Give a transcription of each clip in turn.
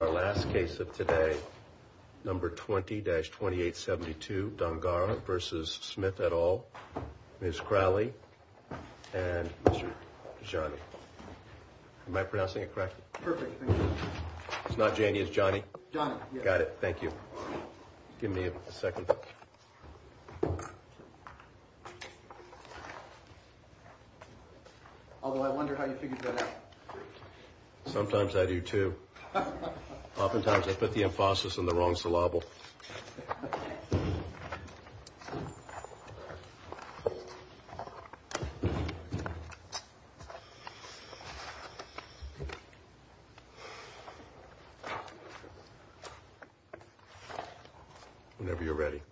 Our last case of today, number 20-2872, Dongarra v. Smith et al., Ms. Crowley and Mr. Jani. Am I pronouncing it correctly? Perfect, thank you. It's not Jani, it's Jani? Jani. Got it, thank you. Give me a second. Although I wonder how you figured that out. Sometimes I do too. Oftentimes I put the emphasis on the wrong syllable. Whenever you're ready.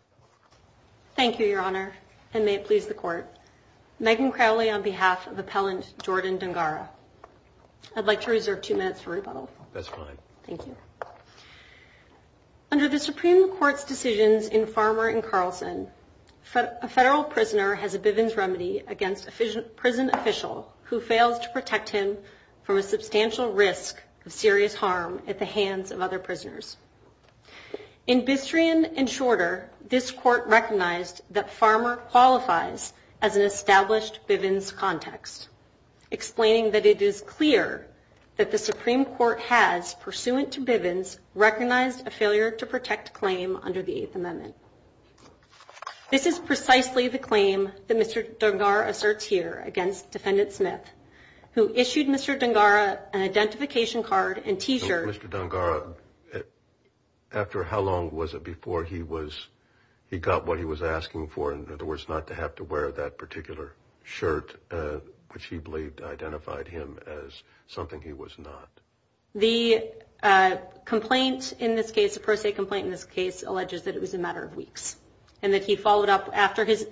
Thank you, Your Honor, and may it please the Court. Megan Crowley on behalf of Appellant Jordan Dongarra. I'd like to reserve two minutes for rebuttal. That's fine. Thank you. Under the Supreme Court's decisions in Farmer v. Carlson, a federal prisoner has a Bivens remedy against a prison official who fails to protect him from a substantial risk of serious harm at the hands of other prisoners. It is clear that the Supreme Court has, pursuant to Bivens, recognized a failure to protect claim under the Eighth Amendment. This is precisely the claim that Mr. Dongarra asserts here against Defendant Smith, who issued Mr. Dongarra an identification card and T-shirt. Mr. Dongarra, after how long was it before he was, he got what he was asking for, in other words, not to have to wear that particular shirt, which he believed identified him as something he was not? The complaint in this case, the pro se complaint in this case, alleges that it was a matter of weeks and that he followed up after his,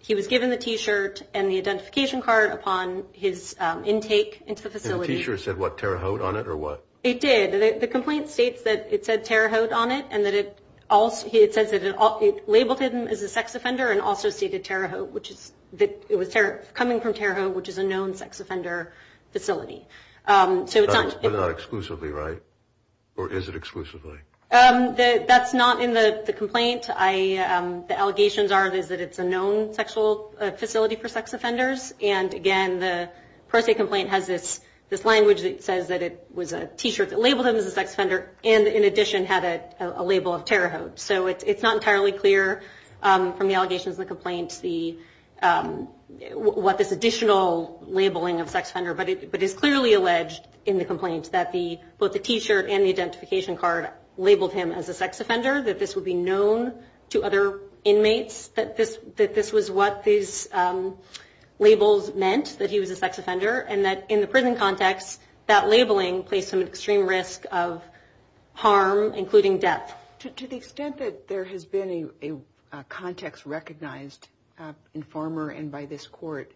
he was given the T-shirt and the identification card upon his intake into the facility. And the T-shirt said what, Terre Haute on it or what? It did. The complaint states that it said Terre Haute on it and that it also, it says that it labeled him as a sex offender and also stated Terre Haute, which is that it was coming from Terre Haute, which is a known sex offender facility. So it's not exclusively right? Or is it exclusively? That's not in the complaint. The allegations are that it's a known sexual facility for sex offenders. And again, the pro se complaint has this language that says that it was a T-shirt that labeled him as a sex offender and in addition had a label of Terre Haute. So it's not entirely clear from the allegations in the complaint what this additional labeling of sex offender, but it is clearly alleged in the complaint that both the T-shirt and the identification card labeled him as a sex offender, that this would be known to other inmates, that this was what these labels meant, that he was a sex offender and that in the prison context, that labeling placed him at extreme risk of harm, including death. To the extent that there has been a context recognized in Farmer and by this court,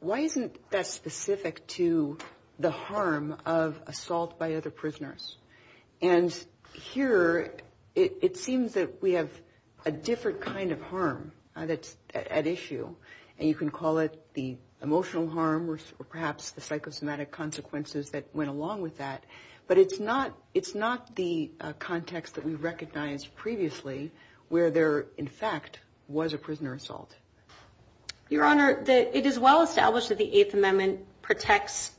why isn't that specific to the harm of assault by other or perhaps the psychosomatic consequences that went along with that. But it's not the context that we recognized previously where there in fact was a prisoner assault. Your Honor, it is well established that the Eighth Amendment protects,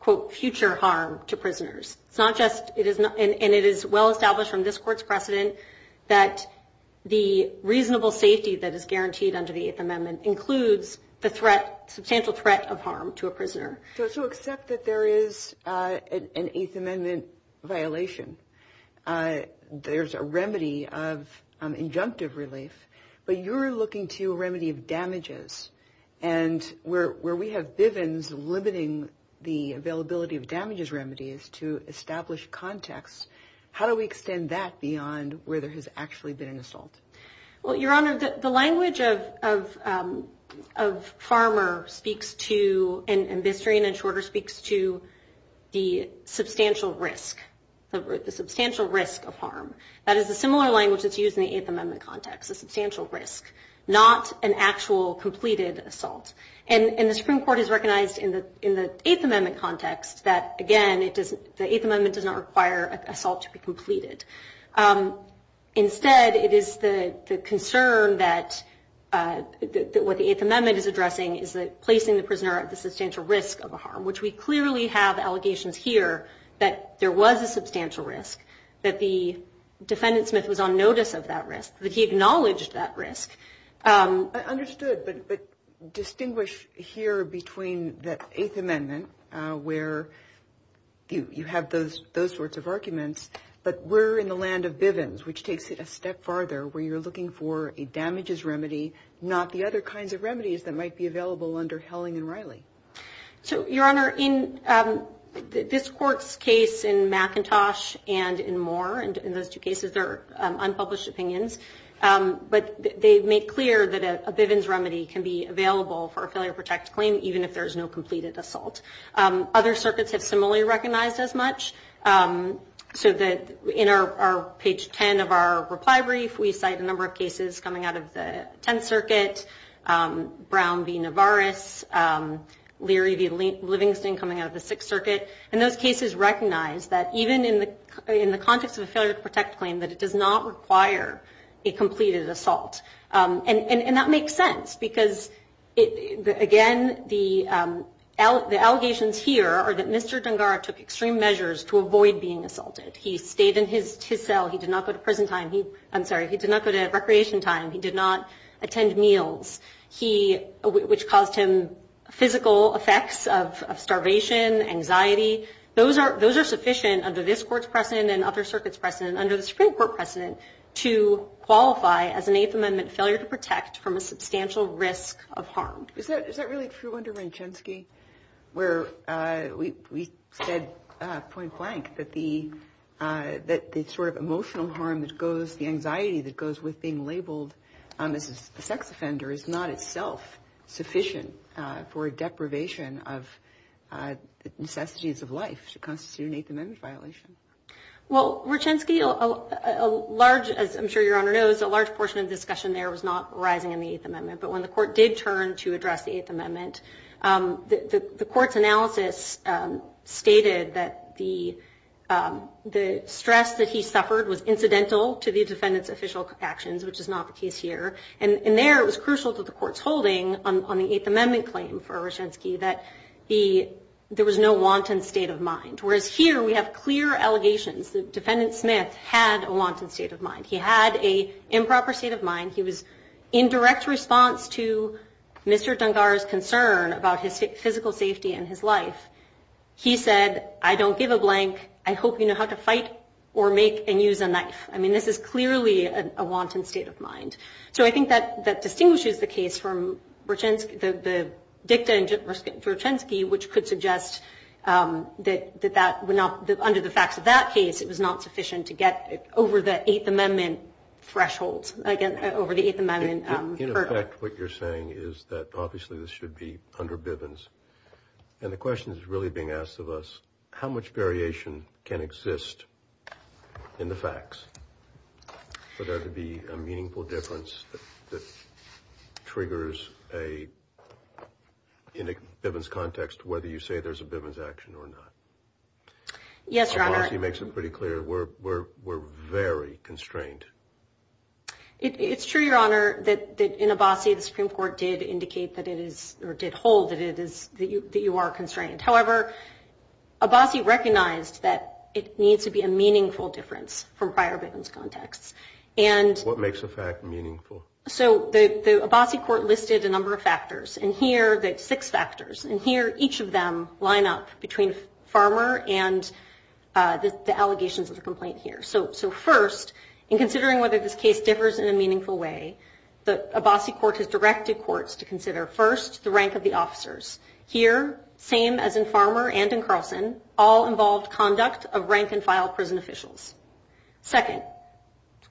quote, future harm to prisoners. And it is well established from this court's precedent that the reasonable safety that is guaranteed under the Eighth Amendment includes the threat, substantial threat of harm to a prisoner. So accept that there is an Eighth Amendment violation. There's a remedy of injunctive relief, but you're looking to a remedy of damages. And where there has actually been an assault. Well, Your Honor, the language of Farmer speaks to and Bissering and Shorter speaks to the substantial risk, the substantial risk of harm. That is a similar language that's used in the Eighth Amendment context, a substantial risk, not an actual completed assault. And the Eighth Amendment does not require assault to be completed. Instead, it is the concern that what the Eighth Amendment is addressing is placing the prisoner at the substantial risk of harm, which we clearly have allegations here that there was a substantial risk, that the defendant Smith was on notice of that risk, that he acknowledged that risk. I understood, but distinguish here between the Eighth Amendment, where you have those sorts of arguments, but we're in the land of Bivens, which takes it a step farther, where you're looking for a damages remedy, not the other kinds of remedies that are used for unpublished opinions. But they make clear that a Bivens remedy can be available for a failure to protect claim, even if there's no completed assault. Other circuits have similarly recognized as much. So that in our page 10 of our reply brief, we cite a number of cases coming out of the Tenth Circuit. We cite cases like Devaris, Leary v. Livingston coming out of the Sixth Circuit. And those cases recognize that even in the context of a failure to protect claim, that it does not require a completed assault. And that makes sense, because again, the allegations here are that Mr. Dungar took extreme measures to avoid being assaulted. He stayed in his cell. He did not go to prison time. I'm sorry, he did not go to recreation time. He did not attend meals, which caused him physical effects of starvation, anxiety. Those are sufficient under this Court's precedent and other circuits precedent, under the Supreme Court precedent, to point blank that the sort of emotional harm that goes, the anxiety that goes with being labeled as a sex offender is not itself sufficient for deprivation of necessities of life to constitute an Eighth Amendment violation. Well, Ruchensky, a large, as I'm sure Your Honor knows, a large portion of discussion there was not arising in the Eighth Amendment. But when the Court did turn to the defendant, the stress that he suffered was incidental to the defendant's official actions, which is not the case here. And there, it was crucial to the Court's holding on the Eighth Amendment claim for Ruchensky that there was no wanton state of mind. Whereas here, we have clear allegations that I hope you know how to fight or make and use a knife. I mean, this is clearly a wanton state of mind. So I think that distinguishes the case from the dicta in Ruchensky, which could suggest that under the facts of that case, it was not sufficient to get over the Eighth Amendment threshold, over the Eighth Amendment hurdle. In effect, what you're saying is that obviously, this should be under Bivens. And the question is really being asked of us, how much variation can exist in the facts for there to be a meaningful difference that triggers a Bivens context, whether you say there's a Bivens action or not? Yes, Your Honor. Obviously, he makes it pretty clear. We're very constrained. It's true, Your Honor, that in Abassi, the Supreme Court did indicate that it is or did hold that you are constrained. However, Abassi recognized that it needs to be a meaningful difference from prior Bivens contexts. What makes a fact meaningful? So the Abassi court listed a number of factors, six factors. And here, each of them line up between Farmer and the allegations of the complaint here. So first, in considering whether this case differs in a meaningful way, the Abassi court has directed courts to consider, first, the rank of the officers. Here, same as in Farmer and in Carlson, all involved conduct of rank and file prison officials. Second,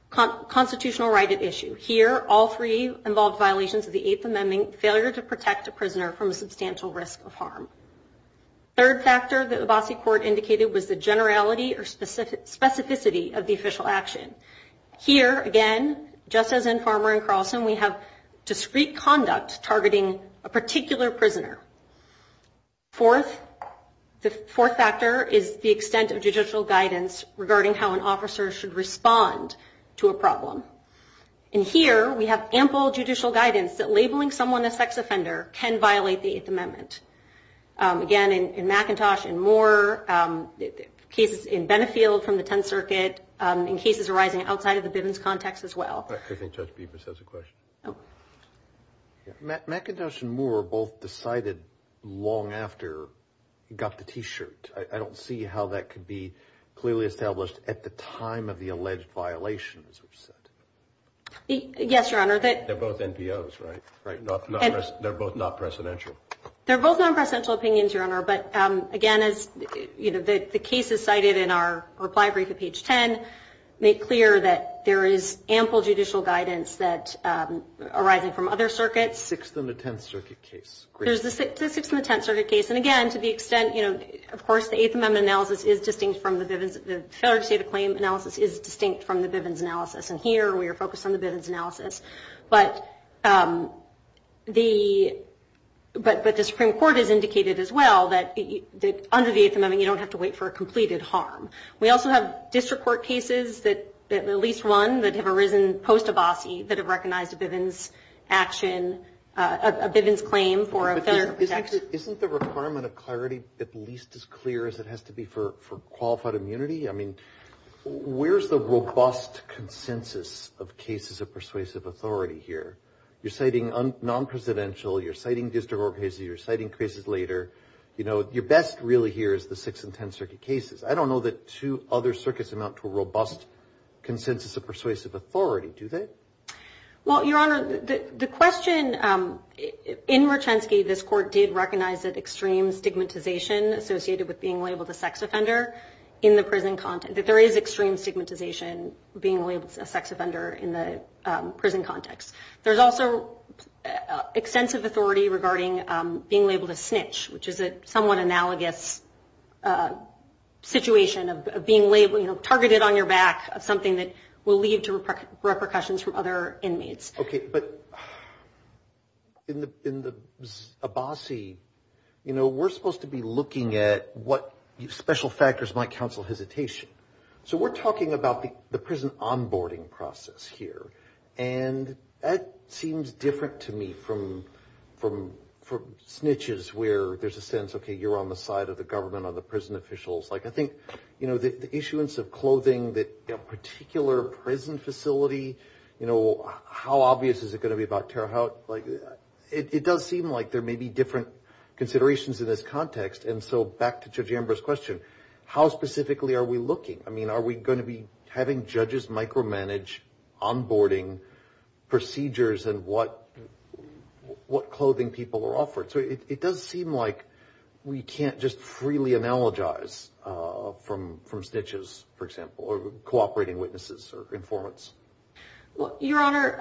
constitutional right at issue. Here, all three involved violations of the Eighth Amendment, failure to protect a prisoner from a substantial risk of harm. Third factor that the Abassi court indicated was the generality or specificity of the official action. Here, again, just as in Farmer and Carlson, we have discrete conduct targeting a particular prisoner. Fourth, the fourth factor is the extent of judicial guidance regarding how an officer should respond to a problem. And here, we have ample judicial guidance that labeling someone a sex offender can violate the Eighth Amendment. Again, in McIntosh and Moore, cases in Benefield from the Tenth Circuit, in cases arising outside of the Bivens context as well. I think Judge Beebers has a question. McIntosh and Moore both decided long after he got the T-shirt. I don't see how that could be clearly established at the time of the alleged violations. Yes, Your Honor. They're both NPOs, right? They're both not presidential? They're both non-presidential opinions, Your Honor, but again, as the cases cited in our reply brief at page 10 make clear that there is ample judicial guidance arising from other circuits. Sixth and the Tenth Circuit case. Sixth and the Tenth Circuit case. And again, to the extent, you know, of course, the Eighth Amendment analysis is distinct from the Bivens, the failure to state a claim analysis is distinct from the Bivens analysis. And here, we are focused on the Bivens analysis. But the Supreme Court has indicated as well that under the Eighth Amendment, you don't have to wait for a completed harm. We also have district court cases, at least one, that have arisen post-Abbasi that have recognized a Bivens action, a Bivens claim, for a failure to protect. Isn't the requirement of clarity at least as clear as it has to be for qualified immunity? I mean, where's the robust consensus of cases of persuasive authority here? You're citing non-presidential, you're citing district court cases, you're citing cases later. You know, your best really here is the Sixth and Tenth Circuit cases. I don't know that two other circuits amount to a robust consensus of persuasive authority, do they? Well, Your Honor, the question in Merchensky, this court did recognize that extreme stigmatization associated with being labeled a sex offender in the prison context, that there is extreme stigmatization being labeled a sex offender in the prison context. There's also extensive authority regarding being labeled a snitch, which is a somewhat analogous situation of being labeled, you know, targeted on your back of something that will lead to repercussions from other inmates. Okay, but in the Abbasi, you know, we're supposed to be looking at what special factors might counsel hesitation. So we're talking about the prison onboarding process here. And that seems different to me from snitches where there's a sense, okay, you're on the side of the government, I'm on the prison officials. Like, I think, you know, the issuance of clothing that a particular prison facility, you know, how obvious is it going to be about terror? Like, it does seem like there may be different considerations in this context. And so back to Judge Amber's question, how specifically are we looking? I mean, are we going to be having judges micromanage onboarding procedures and what clothing people are offered? So it does seem like we can't just freely analogize from snitches, for example, or cooperating witnesses or informants. Your Honor,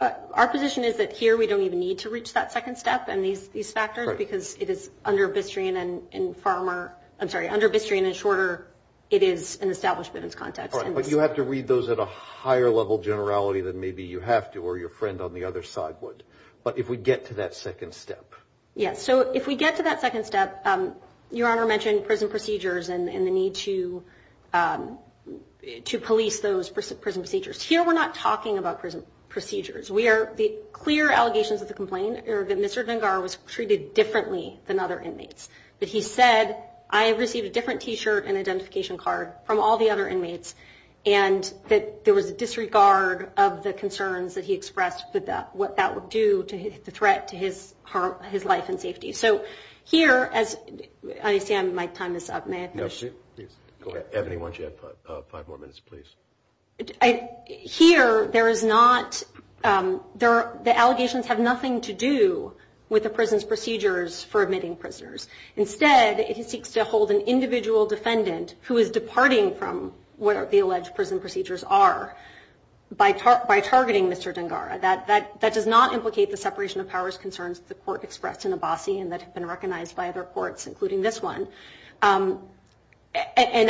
our position is that here we don't even need to reach that second step and these factors, because it is under Bistrian and Farmer. I'm sorry, under Bistrian and Shorter, it is an establishment in its context. But you have to read those at a higher level generality than maybe you have to or your friend on the other side would. But if we get to that second step. Yes. So if we get to that second step, Your Honor mentioned prison procedures and the need to police those prison procedures. Here we're not talking about prison procedures. The clear allegations of the complaint are that Mr. Dengar was treated differently than other inmates. That he said, I received a different T-shirt and identification card from all the other inmates and that there was a disregard of the concerns that he expressed about what that would do to hit the threat to his life and safety. So here, as I understand my time is up. May I finish? Go ahead. Ebony, why don't you have five more minutes, please? Here, there is not, the allegations have nothing to do with the prison's procedures for admitting prisoners. Instead, it seeks to hold an individual defendant who is departing from where the alleged prison procedures are by targeting Mr. Dengar. That does not implicate the separation of powers concerns that the court expressed in Abassi and that have been recognized by other courts, including this one. And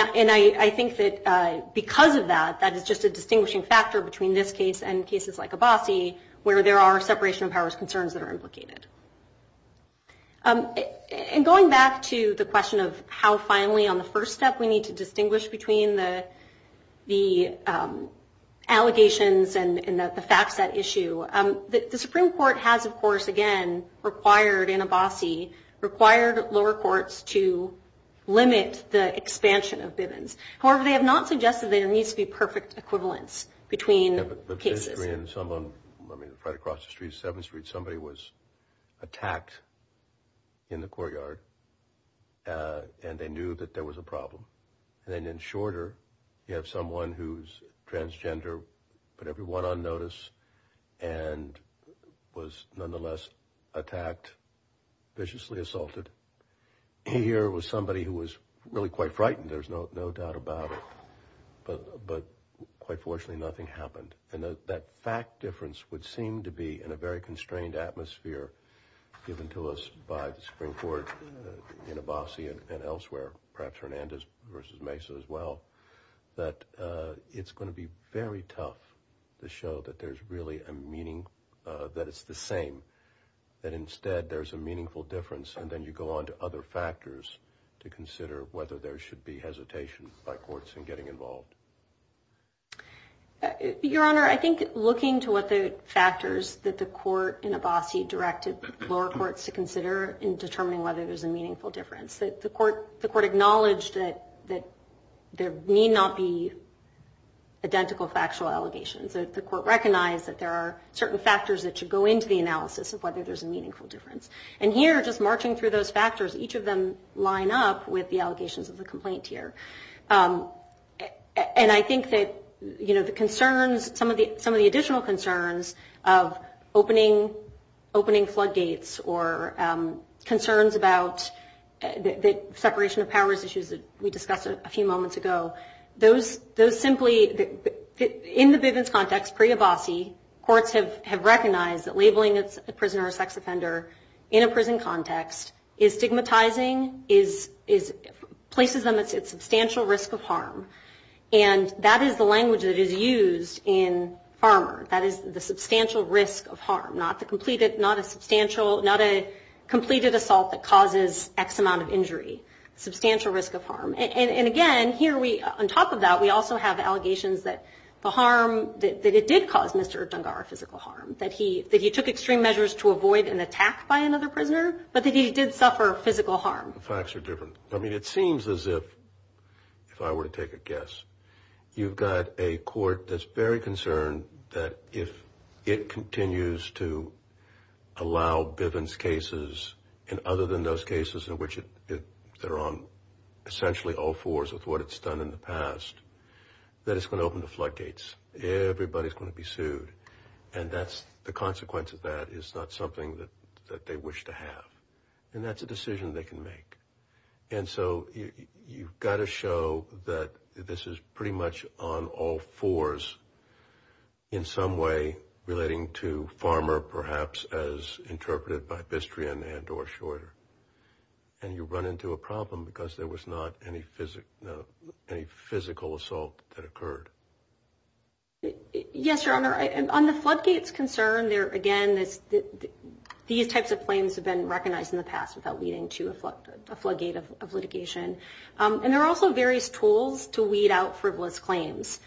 I think that because of that, that is just a distinguishing factor between this case and cases like Abassi where there are separation of powers concerns that are implicated. And going back to the question of how finally on the first step we need to distinguish between the allegations and the facts at issue. The Supreme Court has, of course, again, required in Abassi, required lower courts to limit the expansion of Bivens. However, they have not suggested there needs to be perfect equivalence between cases. Right across the street, 7th Street, somebody was attacked in the courtyard and they knew that there was a problem. And then in Shorter, you have someone who's transgender, put everyone on notice and was nonetheless attacked, viciously assaulted. Here was somebody who was really quite frightened, there's no doubt about it. But quite fortunately, nothing happened. And that fact difference would seem to be in a very constrained atmosphere given to us by the Supreme Court in Abassi and elsewhere, perhaps Hernandez versus Mesa as well, that it's going to be very tough to show that there's really a meaning, that it's the same. That instead there's a meaningful difference and then you go on to other factors to consider whether there should be hesitation by courts in getting involved. Your Honor, I think looking to what the factors that the court in Abassi directed lower courts to consider in determining whether there's a meaningful difference. The court acknowledged that there need not be identical factual allegations. The court recognized that there are certain factors that should go into the analysis of whether there's a meaningful difference. And here, just marching through those factors, each of them line up with the allegations of the complaint here. And I think that, you know, the concerns, some of the additional concerns of opening floodgates or concerns about the separation of powers issues that we discussed a few moments ago, those simply, in the Bivens context, pre-Abassi, courts have recognized that labeling a prisoner or sex offender in a prison context is stigmatizing, places them at substantial risk of harm. And that is the language that is used in farmer. That is the substantial risk of harm, not a completed assault that causes X amount of injury. Substantial risk of harm. And again, here we, on top of that, we also have allegations that the harm, that it did cause Mr. Dungar physical harm, that he took extreme measures to avoid an attack by another prisoner, but that he did suffer physical harm. The facts are different. I mean, it seems as if, if I were to take a guess, you've got a court that's very concerned that if it continues to allow Bivens cases, and other than those cases in which they're on essentially all fours with what it's done in the past, that it's going to open the floodgates. Everybody's going to be sued. And that's, the consequence of that is not something that they wish to have. And that's a decision they can make. And so you've got to show that this is pretty much on all fours in some way relating to farmer, perhaps, as interpreted by Bistrian and or Shorter. And you run into a problem because there was not any physical assault that occurred. Yes, Your Honor. On the floodgates concern, there again, these types of claims have been recognized in the past without leading to a floodgate of litigation. And there are also various tools to weed out frivolous claims,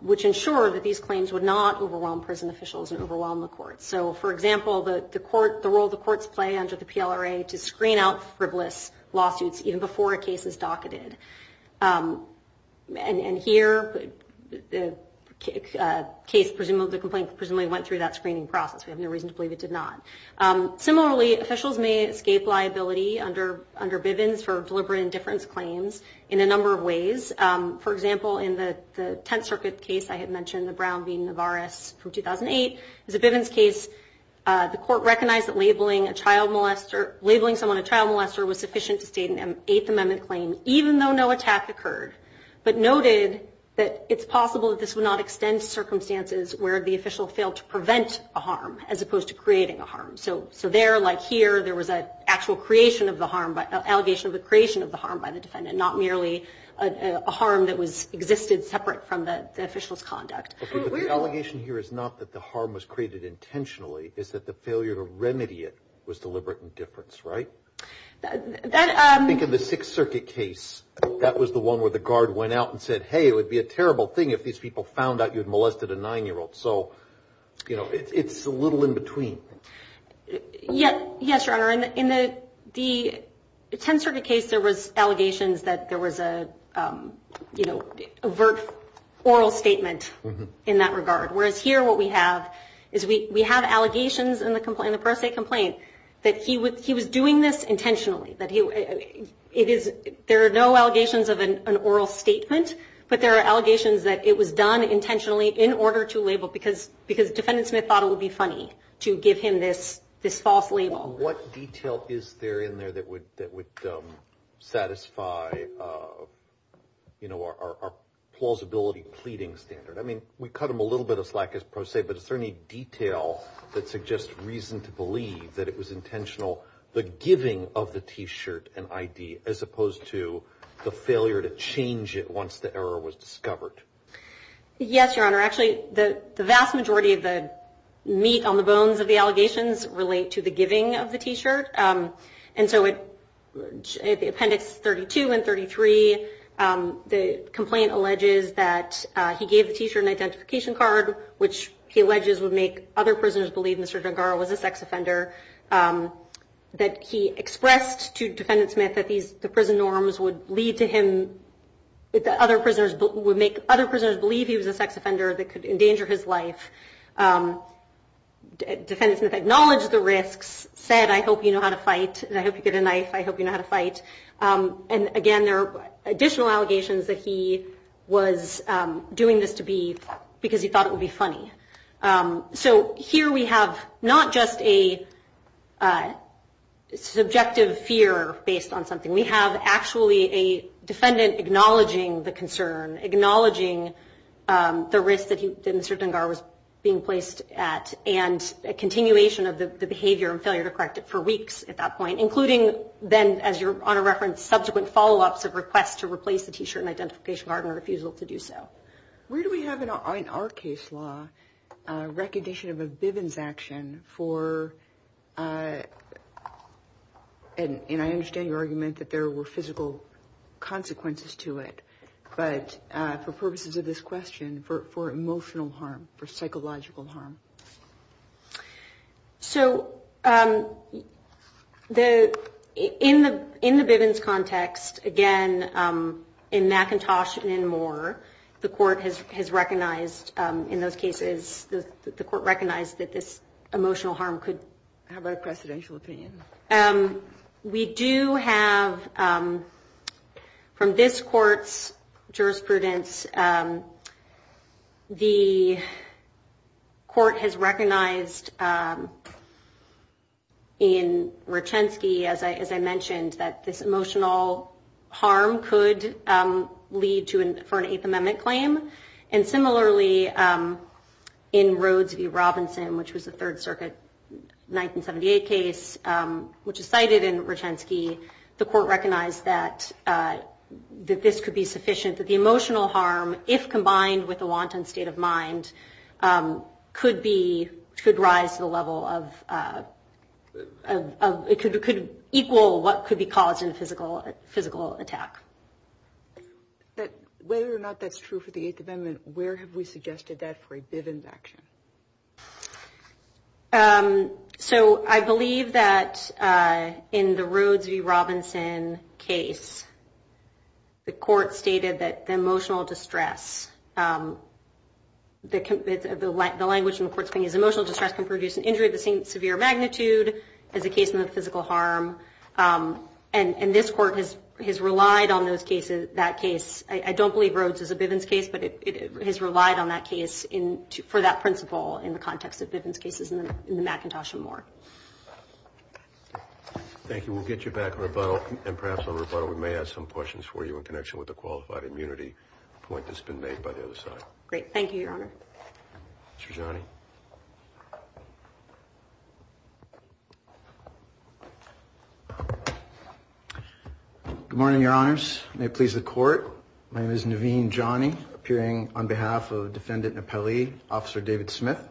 which ensure that these claims would not overwhelm prison officials and overwhelm the courts. So, for example, the role the courts play under the PLRA to screen out frivolous lawsuits even before a case is docketed. And here, the complaint presumably went through that screening process. We have no reason to believe it did not. Similarly, officials may escape liability under Bivens for deliberate indifference claims in a number of ways. For example, in the Tenth Circuit case I had mentioned, the Brown v. Navarez from 2008, as a Bivens case, the court recognized that labeling someone a child molester was sufficient to state an Eighth Amendment claim, even though no attack occurred, but noted that it's possible that this would not extend to circumstances where the official failed to prevent a harm as opposed to creating a harm. So there, like here, there was an actual allegation of the creation of the harm by the defendant, not merely a harm that existed separate from the official's conduct. But the allegation here is not that the harm was created intentionally. It's that the failure to remedy it was deliberate indifference, right? I think in the Sixth Circuit case, that was the one where the guard went out and said, hey, it would be a terrible thing if these people found out you had molested a nine-year-old. So, you know, it's a little in between. Yes, Your Honor. In the Tenth Circuit case, there was allegations that there was a, you know, overt oral statement in that regard, whereas here what we have is we have allegations in the per se complaint that he was doing this intentionally. There are no allegations of an oral statement, but there are allegations that it was done intentionally in order to label, because Defendant Smith thought it would be funny to give him this false label. What detail is there in there that would satisfy, you know, our plausibility pleading standard? I mean, we cut him a little bit of slack as per se, but is there any detail that suggests reason to believe that it was intentional, the giving of the T-shirt and ID as opposed to the failure to change it once the error was discovered? Yes, Your Honor. Actually, the vast majority of the meat on the bones of the allegations relate to the giving of the T-shirt. And so in Appendix 32 and 33, the complaint alleges that he gave the T-shirt an identification card, which he alleges would make other prisoners believe Mr. Dengar was a sex offender, that he expressed to Defendant Smith that the prison norms would lead to him, that other prisoners would make other prisoners believe he was a sex offender that could endanger his life. Defendant Smith acknowledged the risks, said, I hope you know how to fight, and I hope you get a knife, I hope you know how to fight. And again, there are additional allegations that he was doing this to be, because he thought it would be funny. So here we have not just a subjective fear based on something. We have actually a defendant acknowledging the concern, acknowledging the risk that Mr. Dengar was being placed at, and a continuation of the behavior and failure to correct it for weeks at that point, including then, as Your Honor referenced, subsequent follow-ups of requests to replace the T-shirt and identification card and a refusal to do so. Where do we have in our case law recognition of a Bivens action for, and I understand your argument that there were physical consequences to it, but for purposes of this question, for emotional harm, for psychological harm? So in the Bivens context, again, in McIntosh and in Moore, the court has recognized in those cases, the court recognized that this emotional harm could have a precedential opinion. We do have, from this court's jurisprudence, the court has recognized in Rochensky, as I mentioned, that this emotional harm could lead to an, for an Eighth Amendment claim. And similarly, in Rhodes v. Robinson, which was a Third Circuit 1978 case, which is cited in Rochensky, the court recognized that this could be sufficient, that the emotional harm, if combined with a wanton state of mind, could be, could rise to the level of, it could equal what could be caused in a physical attack. But whether or not that's true for the Eighth Amendment, where have we suggested that for a Bivens action? So I believe that in the Rhodes v. Robinson case, the court stated that the emotional distress, the language in the court's claim is emotional distress can produce an injury of the same severe magnitude as a case of physical harm. And this court has relied on those cases, that case, I don't believe Rhodes is a Bivens case, but it has relied on that case for that principle in the context of Bivens cases in the McIntosh and Moore. Thank you. We'll get you back on rebuttal, and perhaps on rebuttal we may ask some questions for you in connection with the qualified immunity point that's been made by the other side. Great. Thank you, Your Honor. Mr. Gianni. Good morning, Your Honors. May it please the court. My name is Naveen Gianni, appearing on behalf of Defendant Napali, Officer David Smith.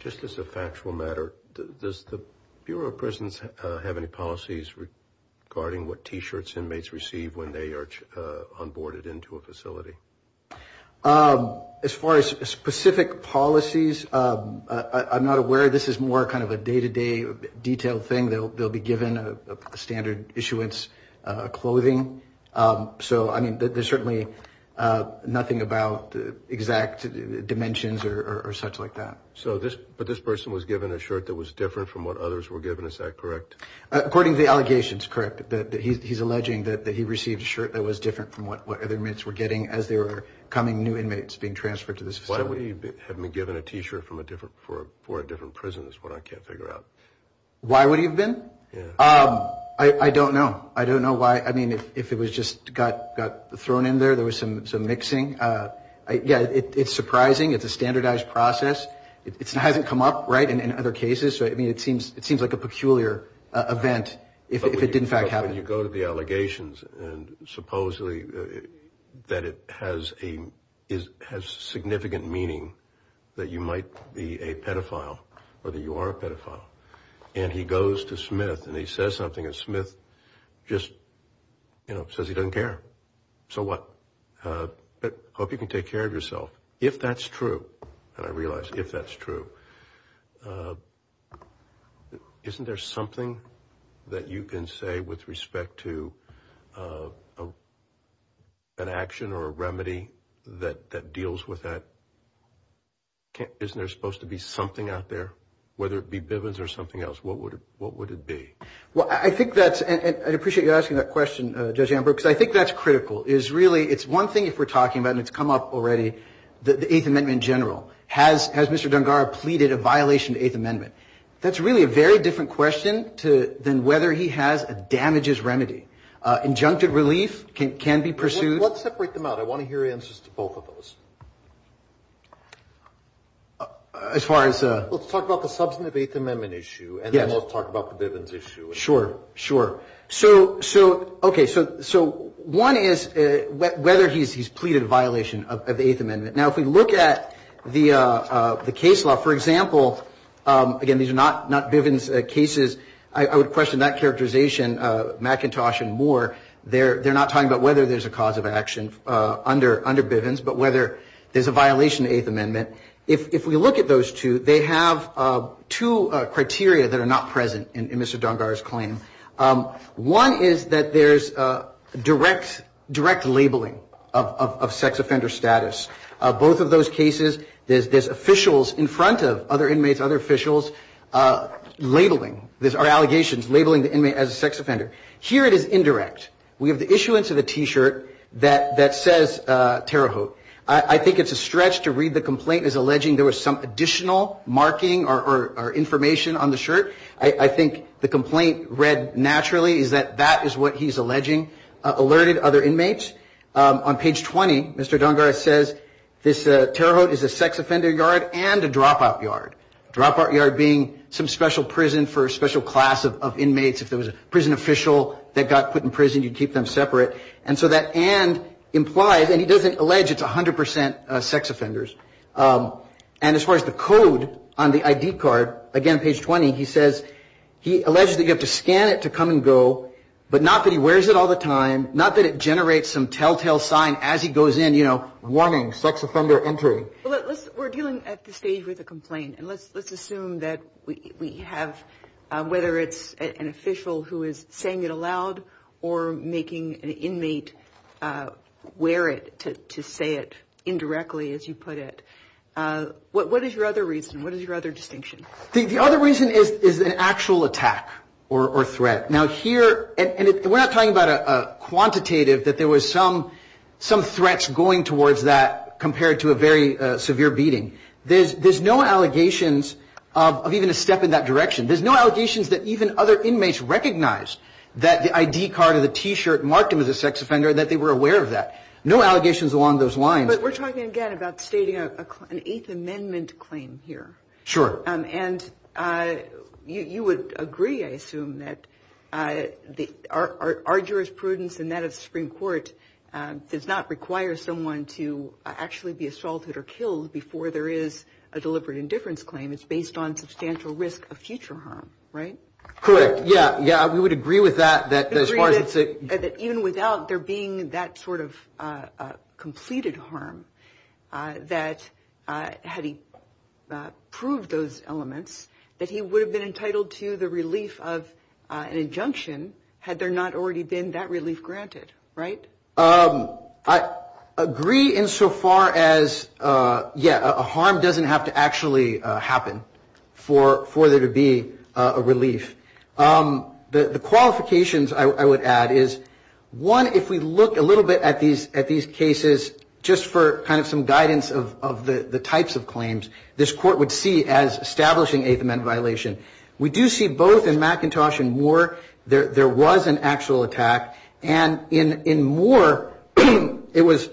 Just as a factual matter, does the Bureau of Prisons have any policies regarding what T-shirts inmates receive when they are onboarded into a facility? As far as specific policies, I'm not aware. This is more kind of a day-to-day detailed thing. They'll be given standard issuance clothing. So, I mean, there's certainly nothing about exact dimensions or such like that. But this person was given a shirt that was different from what others were given, is that correct? According to the allegations, correct. He's alleging that he received a shirt that was different from what other inmates were getting as there were coming new inmates being transferred to this facility. Why would he have been given a T-shirt for a different prison is what I can't figure out. Why would he have been? I don't know. I don't know why. I mean, if it was just got thrown in there, there was some mixing. Yeah, it's surprising. It's a standardized process. It hasn't come up, right, in other cases. I mean, it seems like a peculiar event if it did, in fact, happen. When you go to the allegations and supposedly that it has significant meaning that you might be a pedophile or that you are a pedophile, and he goes to Smith and he says something, and Smith just, you know, says he doesn't care. So what? Hope you can take care of yourself. If that's true, and I realize if that's true, isn't there something that you can say with respect to an action or a remedy that deals with that? Isn't there supposed to be something out there, whether it be Bivens or something else? What would it be? Well, I think that's – and I appreciate you asking that question, Judge Amber, because I think that's critical. It's one thing if we're talking about, and it's come up already, the Eighth Amendment in general. Has Mr. Dungara pleaded a violation of the Eighth Amendment? That's really a very different question than whether he has a damages remedy. Injunctive relief can be pursued. Let's separate them out. I want to hear answers to both of those. As far as? Let's talk about the substantive Eighth Amendment issue, and then we'll talk about the Bivens issue. Sure, sure. Okay, so one is whether he's pleaded a violation of the Eighth Amendment. Now, if we look at the case law, for example, again, these are not Bivens cases. I would question that characterization. McIntosh and Moore, they're not talking about whether there's a cause of action under Bivens but whether there's a violation of the Eighth Amendment. If we look at those two, they have two criteria that are not present in Mr. Dungara's claim. One is that there's direct labeling of sex offender status. Both of those cases, there's officials in front of other inmates, other officials, labeling, there are allegations labeling the inmate as a sex offender. Here it is indirect. We have the issuance of a T-shirt that says Terre Haute. I think it's a stretch to read the complaint as alleging there was some additional marking or information on the shirt. I think the complaint read naturally is that that is what he's alleging alerted other inmates. On page 20, Mr. Dungara says this Terre Haute is a sex offender yard and a dropout yard. Dropout yard being some special prison for a special class of inmates. If there was a prison official that got put in prison, you'd keep them separate. And so that and implies, and he doesn't allege it's 100 percent sex offenders. And as far as the code on the ID card, again, page 20, he says, he alleges that you have to scan it to come and go, but not that he wears it all the time, not that it generates some telltale sign as he goes in, you know, warning, sex offender entry. We're dealing at this stage with a complaint. And let's assume that we have, whether it's an official who is saying it aloud or making an inmate wear it to say it indirectly, as you put it. What is your other reason? What is your other distinction? The other reason is an actual attack or threat. Now, here, and we're not talking about a quantitative, that there was some threats going towards that compared to a very severe beating. There's no allegations of even a step in that direction. There's no allegations that even other inmates recognized that the ID card or the T-shirt marked him as a sex offender, that they were aware of that. No allegations along those lines. But we're talking, again, about stating an Eighth Amendment claim here. Sure. And you would agree, I assume, that our jurisprudence and that of the Supreme Court does not require someone to actually be assaulted or killed before there is a deliberate indifference claim. It's based on substantial risk of future harm, right? Correct. Yeah. Yeah, we would agree with that. We would agree that even without there being that sort of completed harm, that had he proved those elements, that he would have been entitled to the relief of an injunction had there not already been that relief granted, right? I agree insofar as, yeah, a harm doesn't have to actually happen for there to be a relief. The qualifications, I would add, is, one, if we look a little bit at these cases, just for kind of some guidance of the types of claims, this Court would see as establishing Eighth Amendment violation. We do see both in McIntosh and Moore there was an actual attack. And in Moore it was,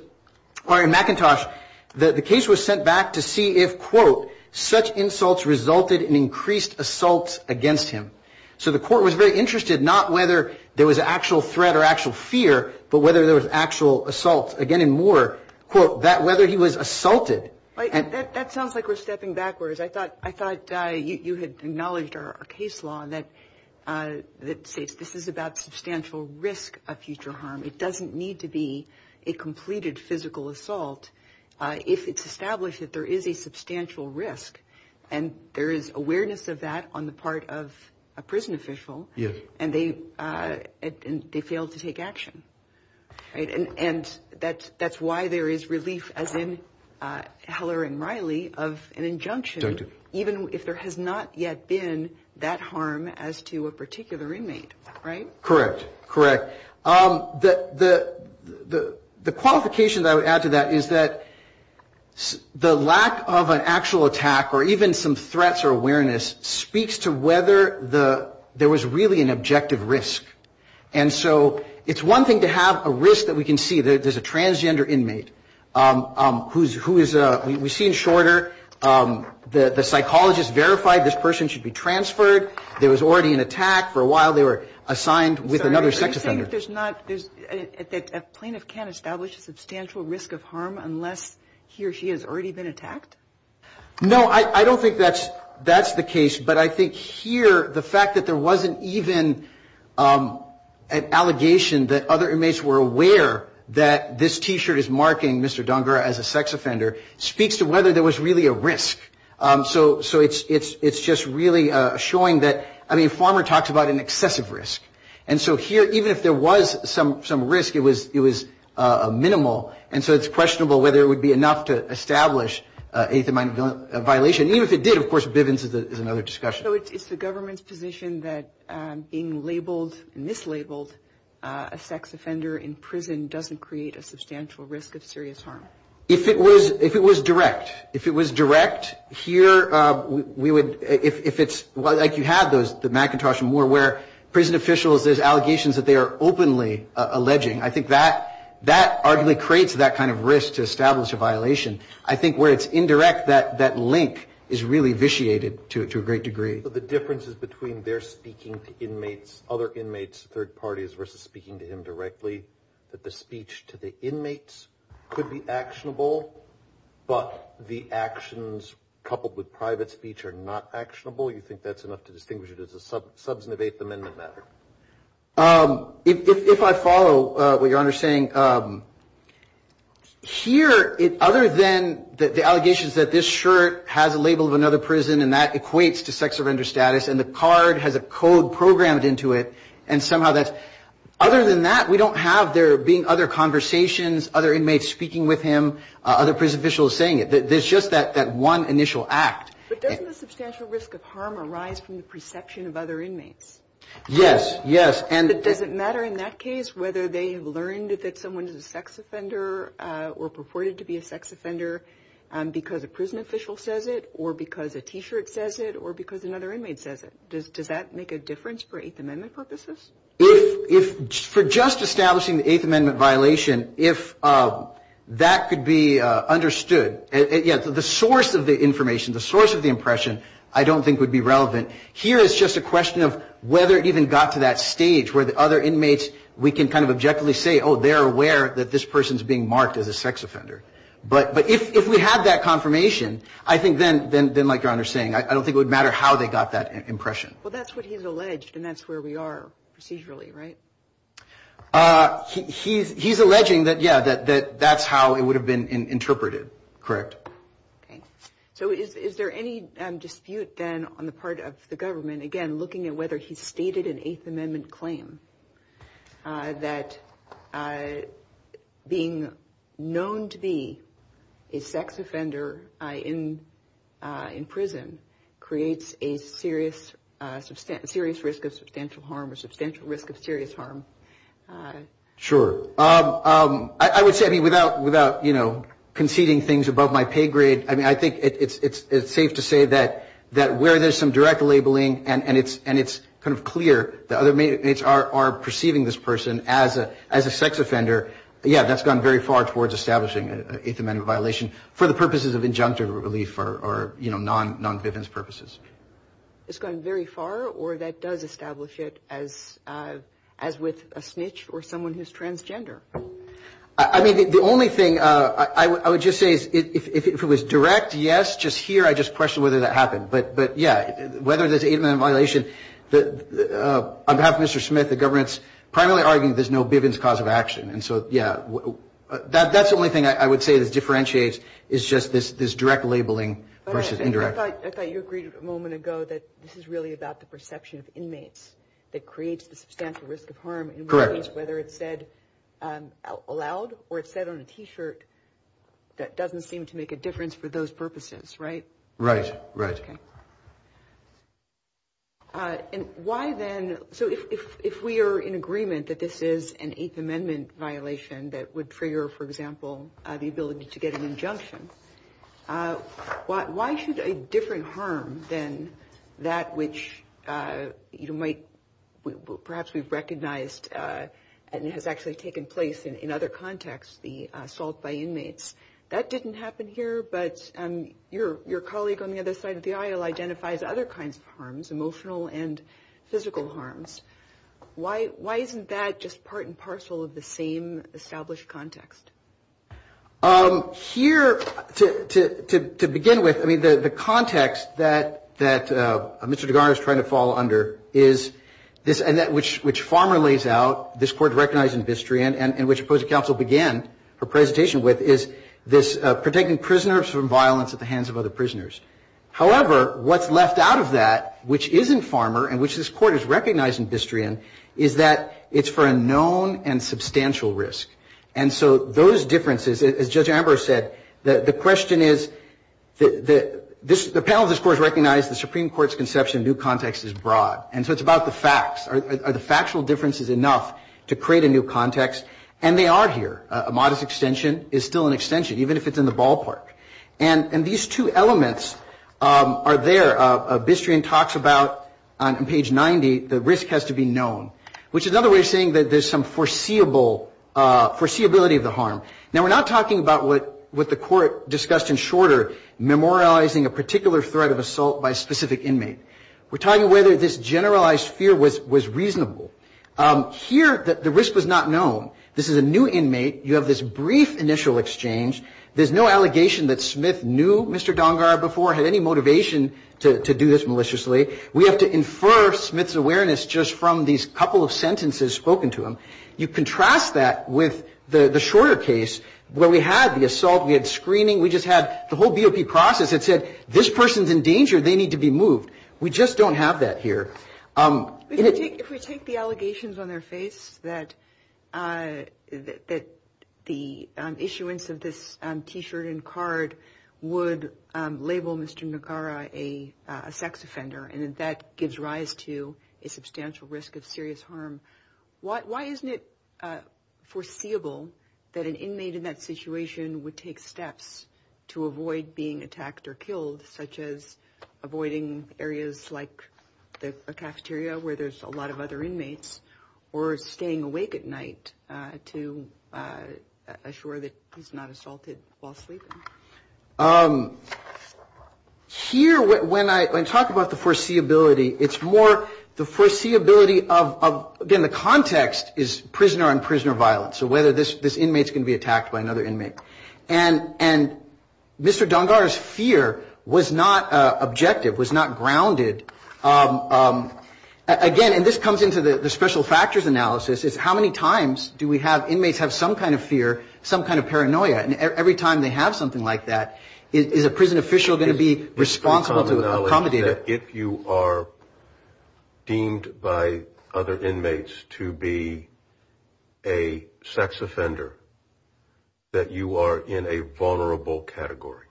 or in McIntosh, the case was sent back to see if, quote, such insults resulted in increased assaults against him. So the Court was very interested not whether there was actual threat or actual fear, but whether there was actual assault. Again, in Moore, quote, that whether he was assaulted. That sounds like we're stepping backwards. I thought you had acknowledged our case law that states this is about substantial risk of future harm. It doesn't need to be a completed physical assault if it's established that there is a substantial risk. And there is awareness of that on the part of a prison official. And they failed to take action. And that's why there is relief, as in Heller and Riley, of an injunction, even if there has not yet been that harm as to a particular inmate, right? Correct. Correct. The qualification that I would add to that is that the lack of an actual attack or even some threats or awareness speaks to whether there was really an objective risk. And so it's one thing to have a risk that we can see. There's a transgender inmate who is we've seen shorter. The psychologist verified this person should be transferred. There was already an attack. For a while, they were assigned with another sex offender. Are you saying that a plaintiff can't establish a substantial risk of harm unless he or she has already been attacked? No, I don't think that's the case. But I think here the fact that there wasn't even an allegation that other inmates were aware that this T-shirt is marking Mr. Dongura as a sex offender speaks to whether there was really a risk. So it's just really showing that, I mean, Farmer talks about an excessive risk. And so here, even if there was some risk, it was minimal. And so it's questionable whether it would be enough to establish a hateful mind violation. Even if it did, of course, Bivens is another discussion. So it's the government's position that being labeled, mislabeled a sex offender in prison doesn't create a substantial risk of serious harm? If it was direct, if it was direct, here we would, if it's like you had the McIntosh and Moore where prison officials, there's allegations that they are openly alleging. I think that arguably creates that kind of risk to establish a violation. I think where it's indirect, that link is really vitiated to a great degree. So the difference is between their speaking to inmates, other inmates, third parties, versus speaking to him directly, that the speech to the inmates could be actionable, but the actions coupled with private speech are not actionable? You think that's enough to distinguish it as a substantive eighth amendment matter? If I follow what Your Honor is saying, here, other than the allegations that this shirt has a label of another prison and that equates to sex offender status and the card has a code programmed into it and somehow that's, other than that, we don't have there being other conversations, other inmates speaking with him, other prison officials saying it. There's just that one initial act. But doesn't the substantial risk of harm arise from the perception of other inmates? Yes, yes. Does it matter in that case whether they have learned that someone is a sex offender or purported to be a sex offender because a prison official says it or because a T-shirt says it or because another inmate says it? Does that make a difference for eighth amendment purposes? If, for just establishing the eighth amendment violation, if that could be understood, yes, the source of the information, the source of the impression, I don't think would be relevant. Here is just a question of whether it even got to that stage where the other inmates, we can kind of objectively say, oh, they're aware that this person is being marked as a sex offender. But if we had that confirmation, I think then, like Your Honor is saying, I don't think it would matter how they got that impression. Well, that's what he's alleged and that's where we are procedurally, right? He's alleging that, yeah, that that's how it would have been interpreted, correct. So is there any dispute then on the part of the government, again, looking at whether he's stated an eighth amendment claim that being known to be a sex offender in prison creates a serious risk of substantial harm or substantial risk of serious harm? Sure. I would say, I mean, without, you know, conceding things above my pay grade, I mean, I think it's safe to say that where there's some direct labeling and it's kind of clear the other inmates are perceiving this person as a sex offender, yeah, that's gone very far towards establishing an eighth amendment violation for the purposes of injunctive relief or, you know, non-vivense purposes. It's gone very far or that does establish it as with a snitch or someone who's transgender? I mean, the only thing I would just say is if it was direct, yes, just here, I just question whether that happened. But, yeah, whether there's an eighth amendment violation, on behalf of Mr. Smith, the government's primarily arguing there's no vivense cause of action. And so, yeah, that's the only thing I would say that differentiates is just this direct labeling versus indirect. I thought you agreed a moment ago that this is really about the perception of inmates that creates the substantial risk of harm. Correct. Whether it's said aloud or it's said on a T-shirt, that doesn't seem to make a difference for those purposes, right? Right, right. Okay. And why then, so if we are in agreement that this is an eighth amendment violation that would trigger, for example, the ability to get an injunction, why should a different harm than that which perhaps we've recognized and has actually taken place in other contexts, the assault by inmates, that didn't happen here? But your colleague on the other side of the aisle identifies other kinds of harms, emotional and physical harms. Why isn't that just part and parcel of the same established context? Here, to begin with, I mean, the context that Mr. DeGarno is trying to fall under is this, and that which Farmer lays out, this Court recognized in Bistrian, and which opposing counsel began her presentation with, is this protecting prisoners from violence at the hands of other prisoners. However, what's left out of that, which isn't Farmer, and which this Court has recognized in Bistrian, is that it's for a known and substantial risk. And so those differences, as Judge Amber said, the question is, the panel of this Court has recognized the Supreme Court's conception of new context is broad. And so it's about the facts. Are the factual differences enough to create a new context? And they are here. A modest extension is still an extension, even if it's in the ballpark. And these two elements are there. Bistrian talks about, on page 90, the risk has to be known, which is another way of saying that there's some foreseeability of the harm. Now, we're not talking about what the Court discussed in Shorter, memorializing a particular threat of assault by a specific inmate. We're talking whether this generalized fear was reasonable. Here, the risk was not known. This is a new inmate. You have this brief initial exchange. There's no allegation that Smith knew Mr. Dongara before, had any motivation to do this maliciously. We have to infer Smith's awareness just from these couple of sentences spoken to him. You contrast that with the Shorter case, where we had the assault, we had screening, we just had the whole BOP process that said, this person's in danger, they need to be moved. We just don't have that here. If we take the allegations on their face, that the issuance of this T-shirt and card would label Mr. Dongara a sex offender, and that gives rise to a substantial risk of serious harm, why isn't it foreseeable that an inmate in that situation would take steps to avoid being attacked or killed, such as avoiding areas like a cafeteria where there's a lot of other inmates, or staying awake at night to assure that he's not assaulted while sleeping? Here, when I talk about the foreseeability, it's more the foreseeability of, again, the context is prisoner on prisoner violence, so whether this inmate's going to be attacked by another inmate. And Mr. Dongara's fear was not objective, was not grounded. Again, and this comes into the special factors analysis, is how many times do we have inmates have some kind of fear, some kind of paranoia, and every time they have something like that, is a prison official going to be responsible to accommodate it? If you are deemed by other inmates to be a sex offender, that you are in a vulnerable category,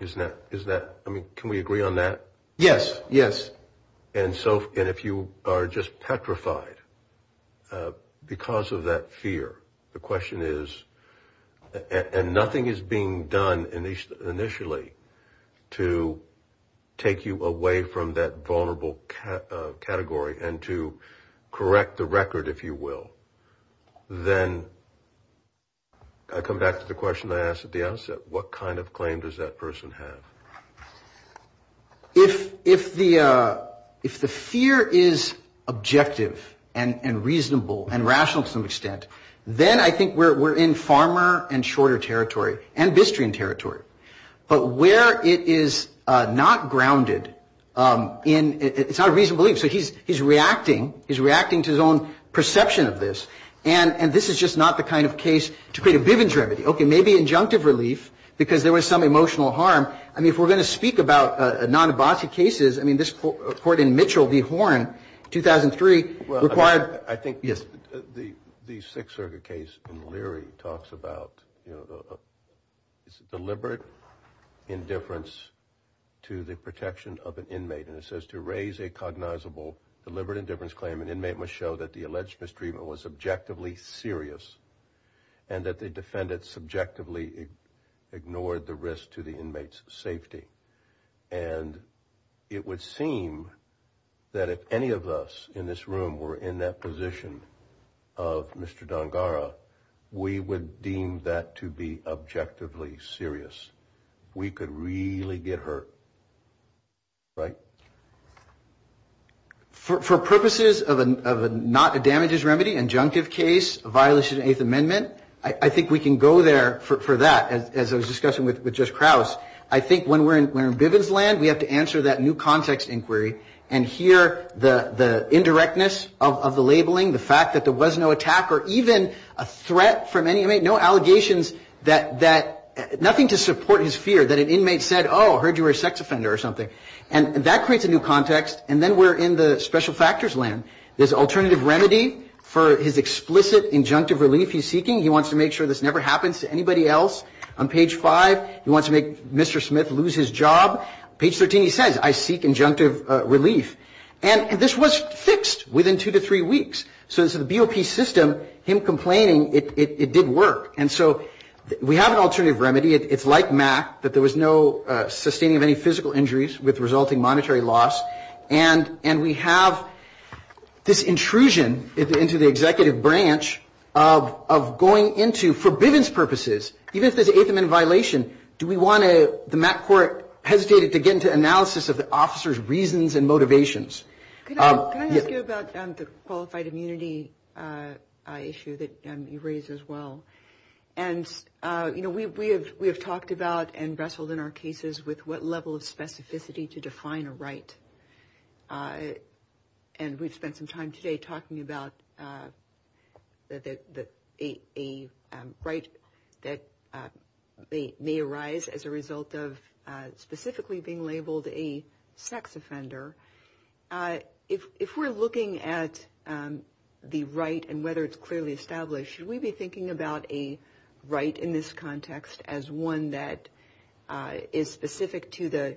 isn't that, I mean, can we agree on that? Yes, yes. And if you are just petrified because of that fear, the question is, and nothing is being done initially to take you away from that vulnerable category and to correct the record, if you will, then I come back to the question I asked at the outset, what kind of claim does that person have? If the fear is objective and reasonable and rational to some extent, then I think we're in farmer and shorter territory, and Bistrian territory. But where it is not grounded in, it's not a reasonable belief, so he's reacting, he's reacting to his own perception of this, and this is just not the kind of case to create a Bivens remedy. Okay, maybe injunctive relief because there was some emotional harm. I mean, if we're going to speak about non-Ibazi cases, I mean, this court in Mitchell v. Horn, 2003, required, I think the Sixerga case in Leary talks about deliberate indifference to the protection of an inmate, and it says to raise a cognizable deliberate indifference claim, an inmate must show that the alleged mistreatment was objectively serious and that the defendant subjectively ignored the risk to the inmate's safety. And it would seem that if any of us in this room were in that position of Mr. Dongara, we would deem that to be objectively serious. We could really get hurt, right? For purposes of not a damages remedy, injunctive case, violation of the Eighth Amendment, I think we can go there for that, as I was discussing with Judge Krause. I think when we're in Bivens land, we have to answer that new context inquiry and hear the indirectness of the labeling, the fact that there was no attack or even a threat from any inmate, no allegations that, nothing to support his fear that an inmate said, oh, I heard you were a sex offender or something. And that creates a new context. And then we're in the special factors land. There's an alternative remedy for his explicit injunctive relief he's seeking. He wants to make sure this never happens to anybody else. On page 5, he wants to make Mr. Smith lose his job. Page 13, he says, I seek injunctive relief. And this was fixed within two to three weeks. So the BOP system, him complaining, it did work. And so we have an alternative remedy. It's like MAC, that there was no sustaining of any physical injuries with resulting monetary loss. And we have this intrusion into the executive branch of going into for Bivens purposes, even if there's an eighth amendment violation. Do we want the MAC court hesitated to get into analysis of the officer's reasons and motivations? Can I ask you about the qualified immunity issue that you raised as well? And, you know, we have talked about and wrestled in our cases with what level of specificity to define a right. And we've spent some time today talking about a right that may arise as a result of specifically being labeled a sex offender. If we're looking at the right and whether it's clearly established, should we be thinking about a right in this context as one that is specific to the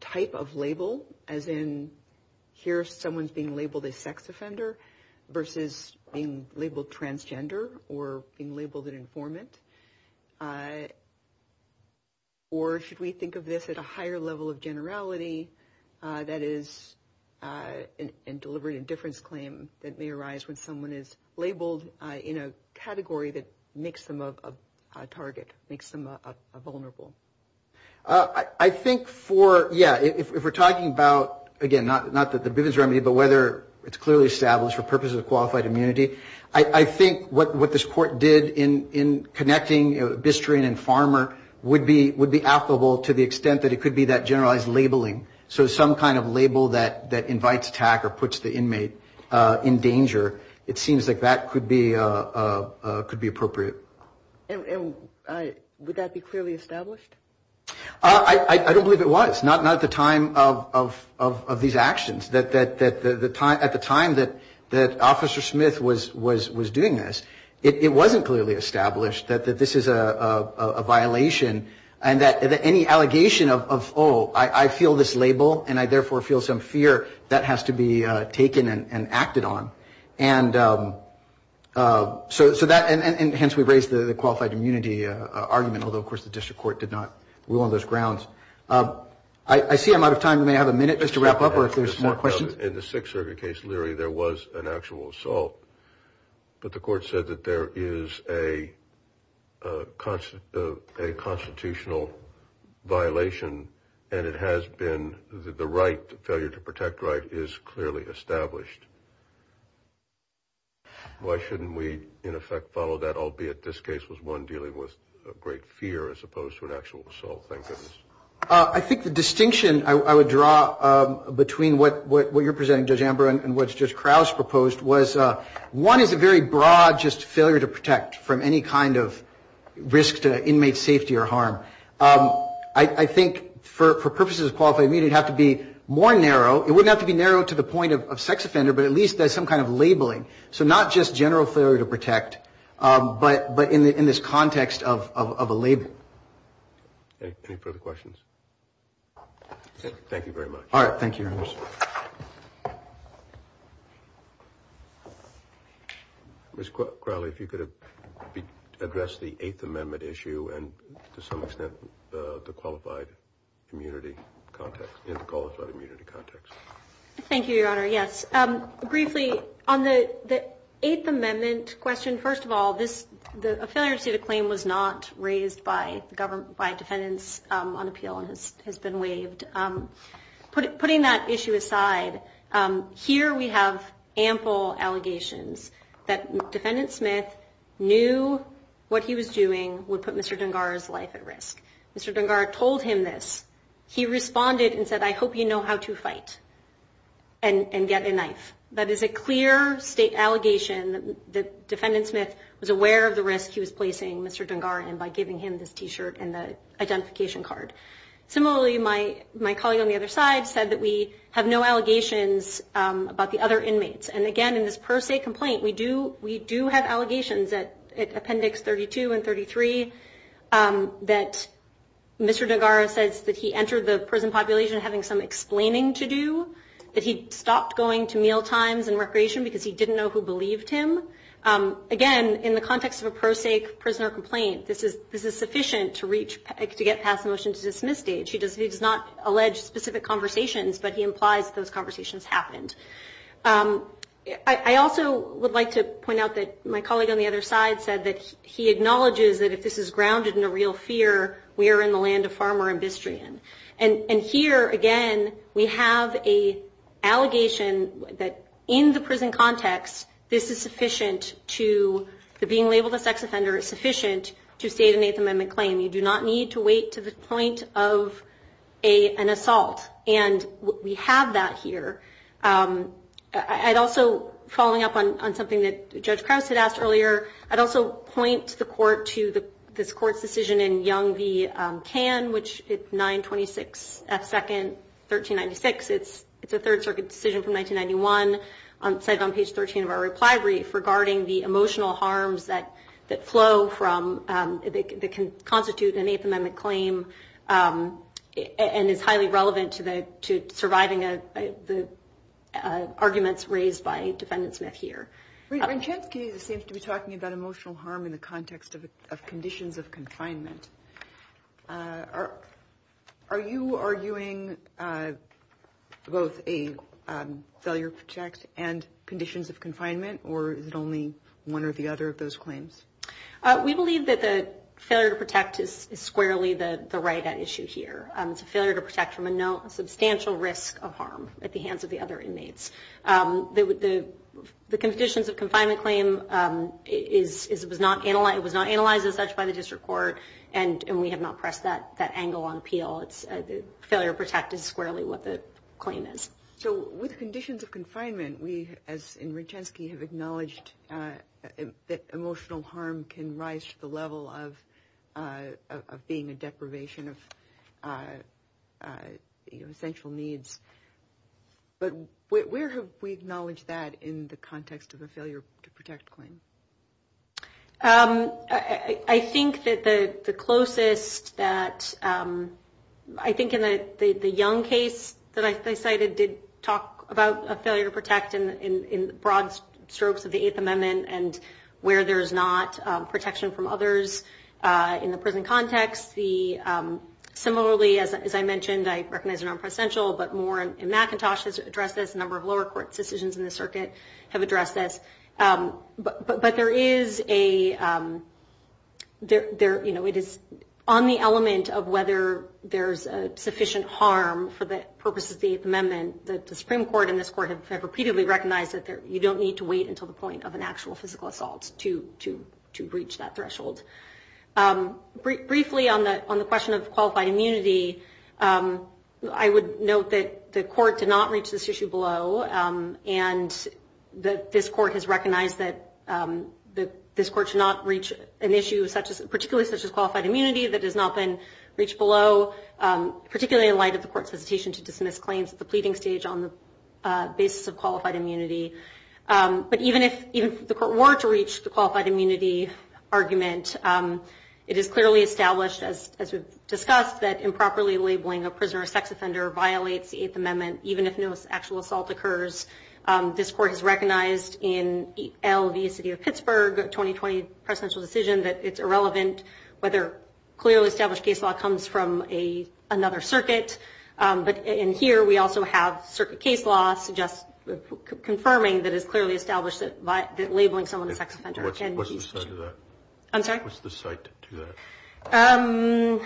type of label, as in here someone's being labeled a sex offender versus being labeled transgender or being labeled an informant? Or should we think of this at a higher level of generality, that is, and deliberate indifference claim that may arise when someone is labeled in a category that makes them a target, makes them a vulnerable? I think for, yeah, if we're talking about, again, not that the Bivens remedy, but whether it's clearly established for purposes of qualified immunity, I think what this court did in connecting, you know, bistro and farmer would be applicable to the extent that it could be that generalized labeling. So some kind of label that invites attack or puts the inmate in danger, it seems like that could be appropriate. And would that be clearly established? I don't believe it was, not at the time of these actions. At the time that Officer Smith was doing this, it wasn't clearly established that this is a violation and that any allegation of, oh, I feel this label and I therefore feel some fear, that has to be taken and acted on. And so that, and hence we raise the qualified immunity argument, although of course the district court did not rule on those grounds. I see I'm out of time. We may have a minute just to wrap up or if there's more questions. In the Sixth Circuit case, Leary, there was an actual assault, but the court said that there is a constitutional violation and it has been, the right, failure to protect right, is clearly established. Why shouldn't we, in effect, follow that, albeit this case was one dealing with great fear as opposed to an actual assault? I think the distinction I would draw between what you're presenting, Judge Amber, and what Judge Crouch proposed was one is a very broad just failure to protect from any kind of risk to inmate safety or harm. I think for purposes of qualified immunity, it would have to be more narrow. It wouldn't have to be narrow to the point of sex offender, but at least there's some kind of labeling. So not just general failure to protect, but in this context of a label. Any further questions? Thank you very much. All right. Thank you, Your Honor. Ms. Crowley, if you could address the Eighth Amendment issue and to some extent the qualified immunity context. Thank you, Your Honor. Yes. Briefly, on the Eighth Amendment question, first of all, a failure to receive a claim was not raised by defendants on appeal and has been waived. Putting that issue aside, here we have ample allegations that Defendant Smith knew what he was doing would put Mr. Dungar's life at risk. Mr. Dungar told him this. He responded and said, I hope you know how to fight and get a knife. That is a clear state allegation that Defendant Smith was aware of the risk he was placing Mr. Dungar in by giving him this T-shirt and the identification card. Similarly, my colleague on the other side said that we have no allegations about the other inmates. And again, in this per se complaint, we do have allegations at Appendix 32 and 33 that Mr. Dungar says that he entered the prison population having some explaining to do, that he stopped going to mealtimes and recreation because he didn't know who believed him. Again, in the context of a pro se prisoner complaint, this is sufficient to get past the motion to dismiss stage. He does not allege specific conversations, but he implies that those conversations happened. I also would like to point out that my colleague on the other side said that he acknowledges that if this is grounded in a real fear, we are in the land of farmer and Bistrian. And here, again, we have an allegation that in the prison context, this is sufficient to being labeled a sex offender. It's sufficient to state an Eighth Amendment claim. You do not need to wait to the point of an assault. And we have that here. I'd also, following up on something that Judge Krause had asked earlier, I'd also point the court to this court's decision in Young v. Kahn, which is 926 F. 2nd, 1396. It's a Third Circuit decision from 1991, cited on page 13 of our reply brief, regarding the emotional harms that flow from, that can constitute an Eighth Amendment claim and is highly relevant to surviving the arguments raised by Defendant Smith here. Vincenski seems to be talking about emotional harm in the context of conditions of confinement. Are you arguing both a failure to protect and conditions of confinement, or is it only one or the other of those claims? We believe that the failure to protect is squarely the right at issue here. It's a failure to protect from a substantial risk of harm at the hands of the other inmates. The conditions of confinement claim, it was not analyzed as such by the district court, and we have not pressed that angle on appeal. The failure to protect is squarely what the claim is. So with conditions of confinement, we, as in Vincenski, have acknowledged that emotional harm can rise to the level of being a deprivation of essential needs. But where have we acknowledged that in the context of a failure to protect claim? I think that the closest that, I think in the Young case that I cited, did talk about a failure to protect in broad strokes of the Eighth Amendment and where there's not protection from others in the prison context. Similarly, as I mentioned, I recognize they're non-presidential, but more in McIntosh has addressed this, a number of lower court decisions in the circuit have addressed this. But there is a, you know, it is on the element of whether there's sufficient harm for the purposes of the Eighth Amendment that the Supreme Court and this court have repeatedly recognized that you don't need to wait until the point of an actual physical assault to breach that threshold. Briefly on the question of qualified immunity, I would note that the court did not reach this issue below, and that this court has recognized that this court should not reach an issue, particularly such as qualified immunity, that has not been reached below, particularly in light of the court's hesitation to dismiss claims at the pleading stage on the basis of qualified immunity. But even if the court were to reach the qualified immunity argument, it is clearly established, as we've discussed, that improperly labeling a prisoner a sex offender violates the Eighth Amendment, even if no actual assault occurs. This court has recognized in L v. City of Pittsburgh, a 2020 presidential decision, that it's irrelevant whether clearly established case law comes from another circuit. But in here, we also have circuit case law confirming that it's clearly established that labeling someone a sex offender. What's the site of that? I'm sorry? What's the site to that?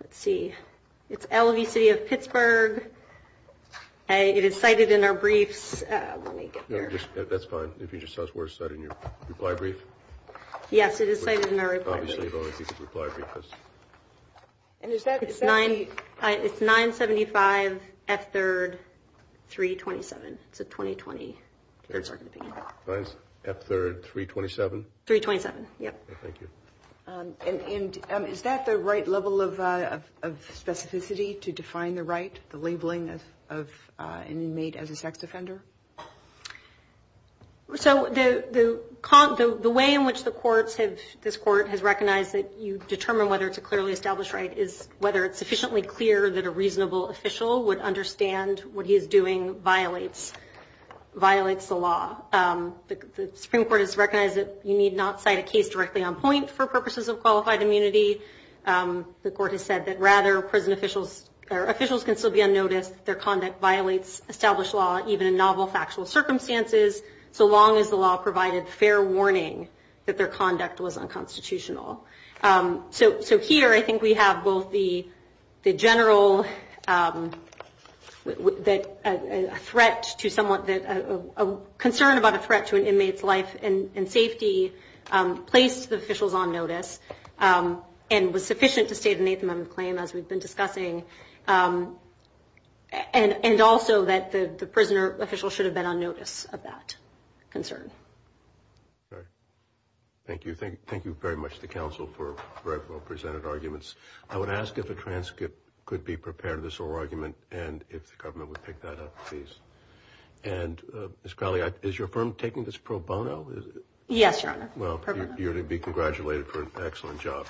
Let's see. It's L v. City of Pittsburgh. It is cited in our briefs. That's fine. If you just tell us where it's cited in your reply brief. Yes, it is cited in our reply brief. Obviously, if only you could reply brief us. It's 975 F 3rd 327. It's a 2020. F 3rd 327? 327, yep. Thank you. And is that the right level of specificity to define the right, the labeling of an inmate as a sex offender? So the way in which this court has recognized that you determine whether it's a clearly established right is whether it's sufficiently clear that a reasonable official would understand what he is doing violates the law. The Supreme Court has recognized that you need not cite a case directly on point for purposes of qualified immunity. The court has said that rather prison officials or officials can still be unnoticed. Their conduct violates established law, even in novel factual circumstances, so long as the law provided fair warning that their conduct was unconstitutional. So here I think we have both the general threat to someone, a concern about a threat to an inmate's life and safety placed the officials on notice and was sufficient to state an Eighth Amendment claim, as we've been discussing, and also that the prisoner official should have been on notice of that concern. Thank you. Thank you very much to the Council for very well presented arguments. I would ask if a transcript could be prepared of this whole argument and if the government would pick that up, please. And Ms. Crowley, is your firm taking this pro bono? Yes, Your Honor. Well, you're to be congratulated for an excellent job.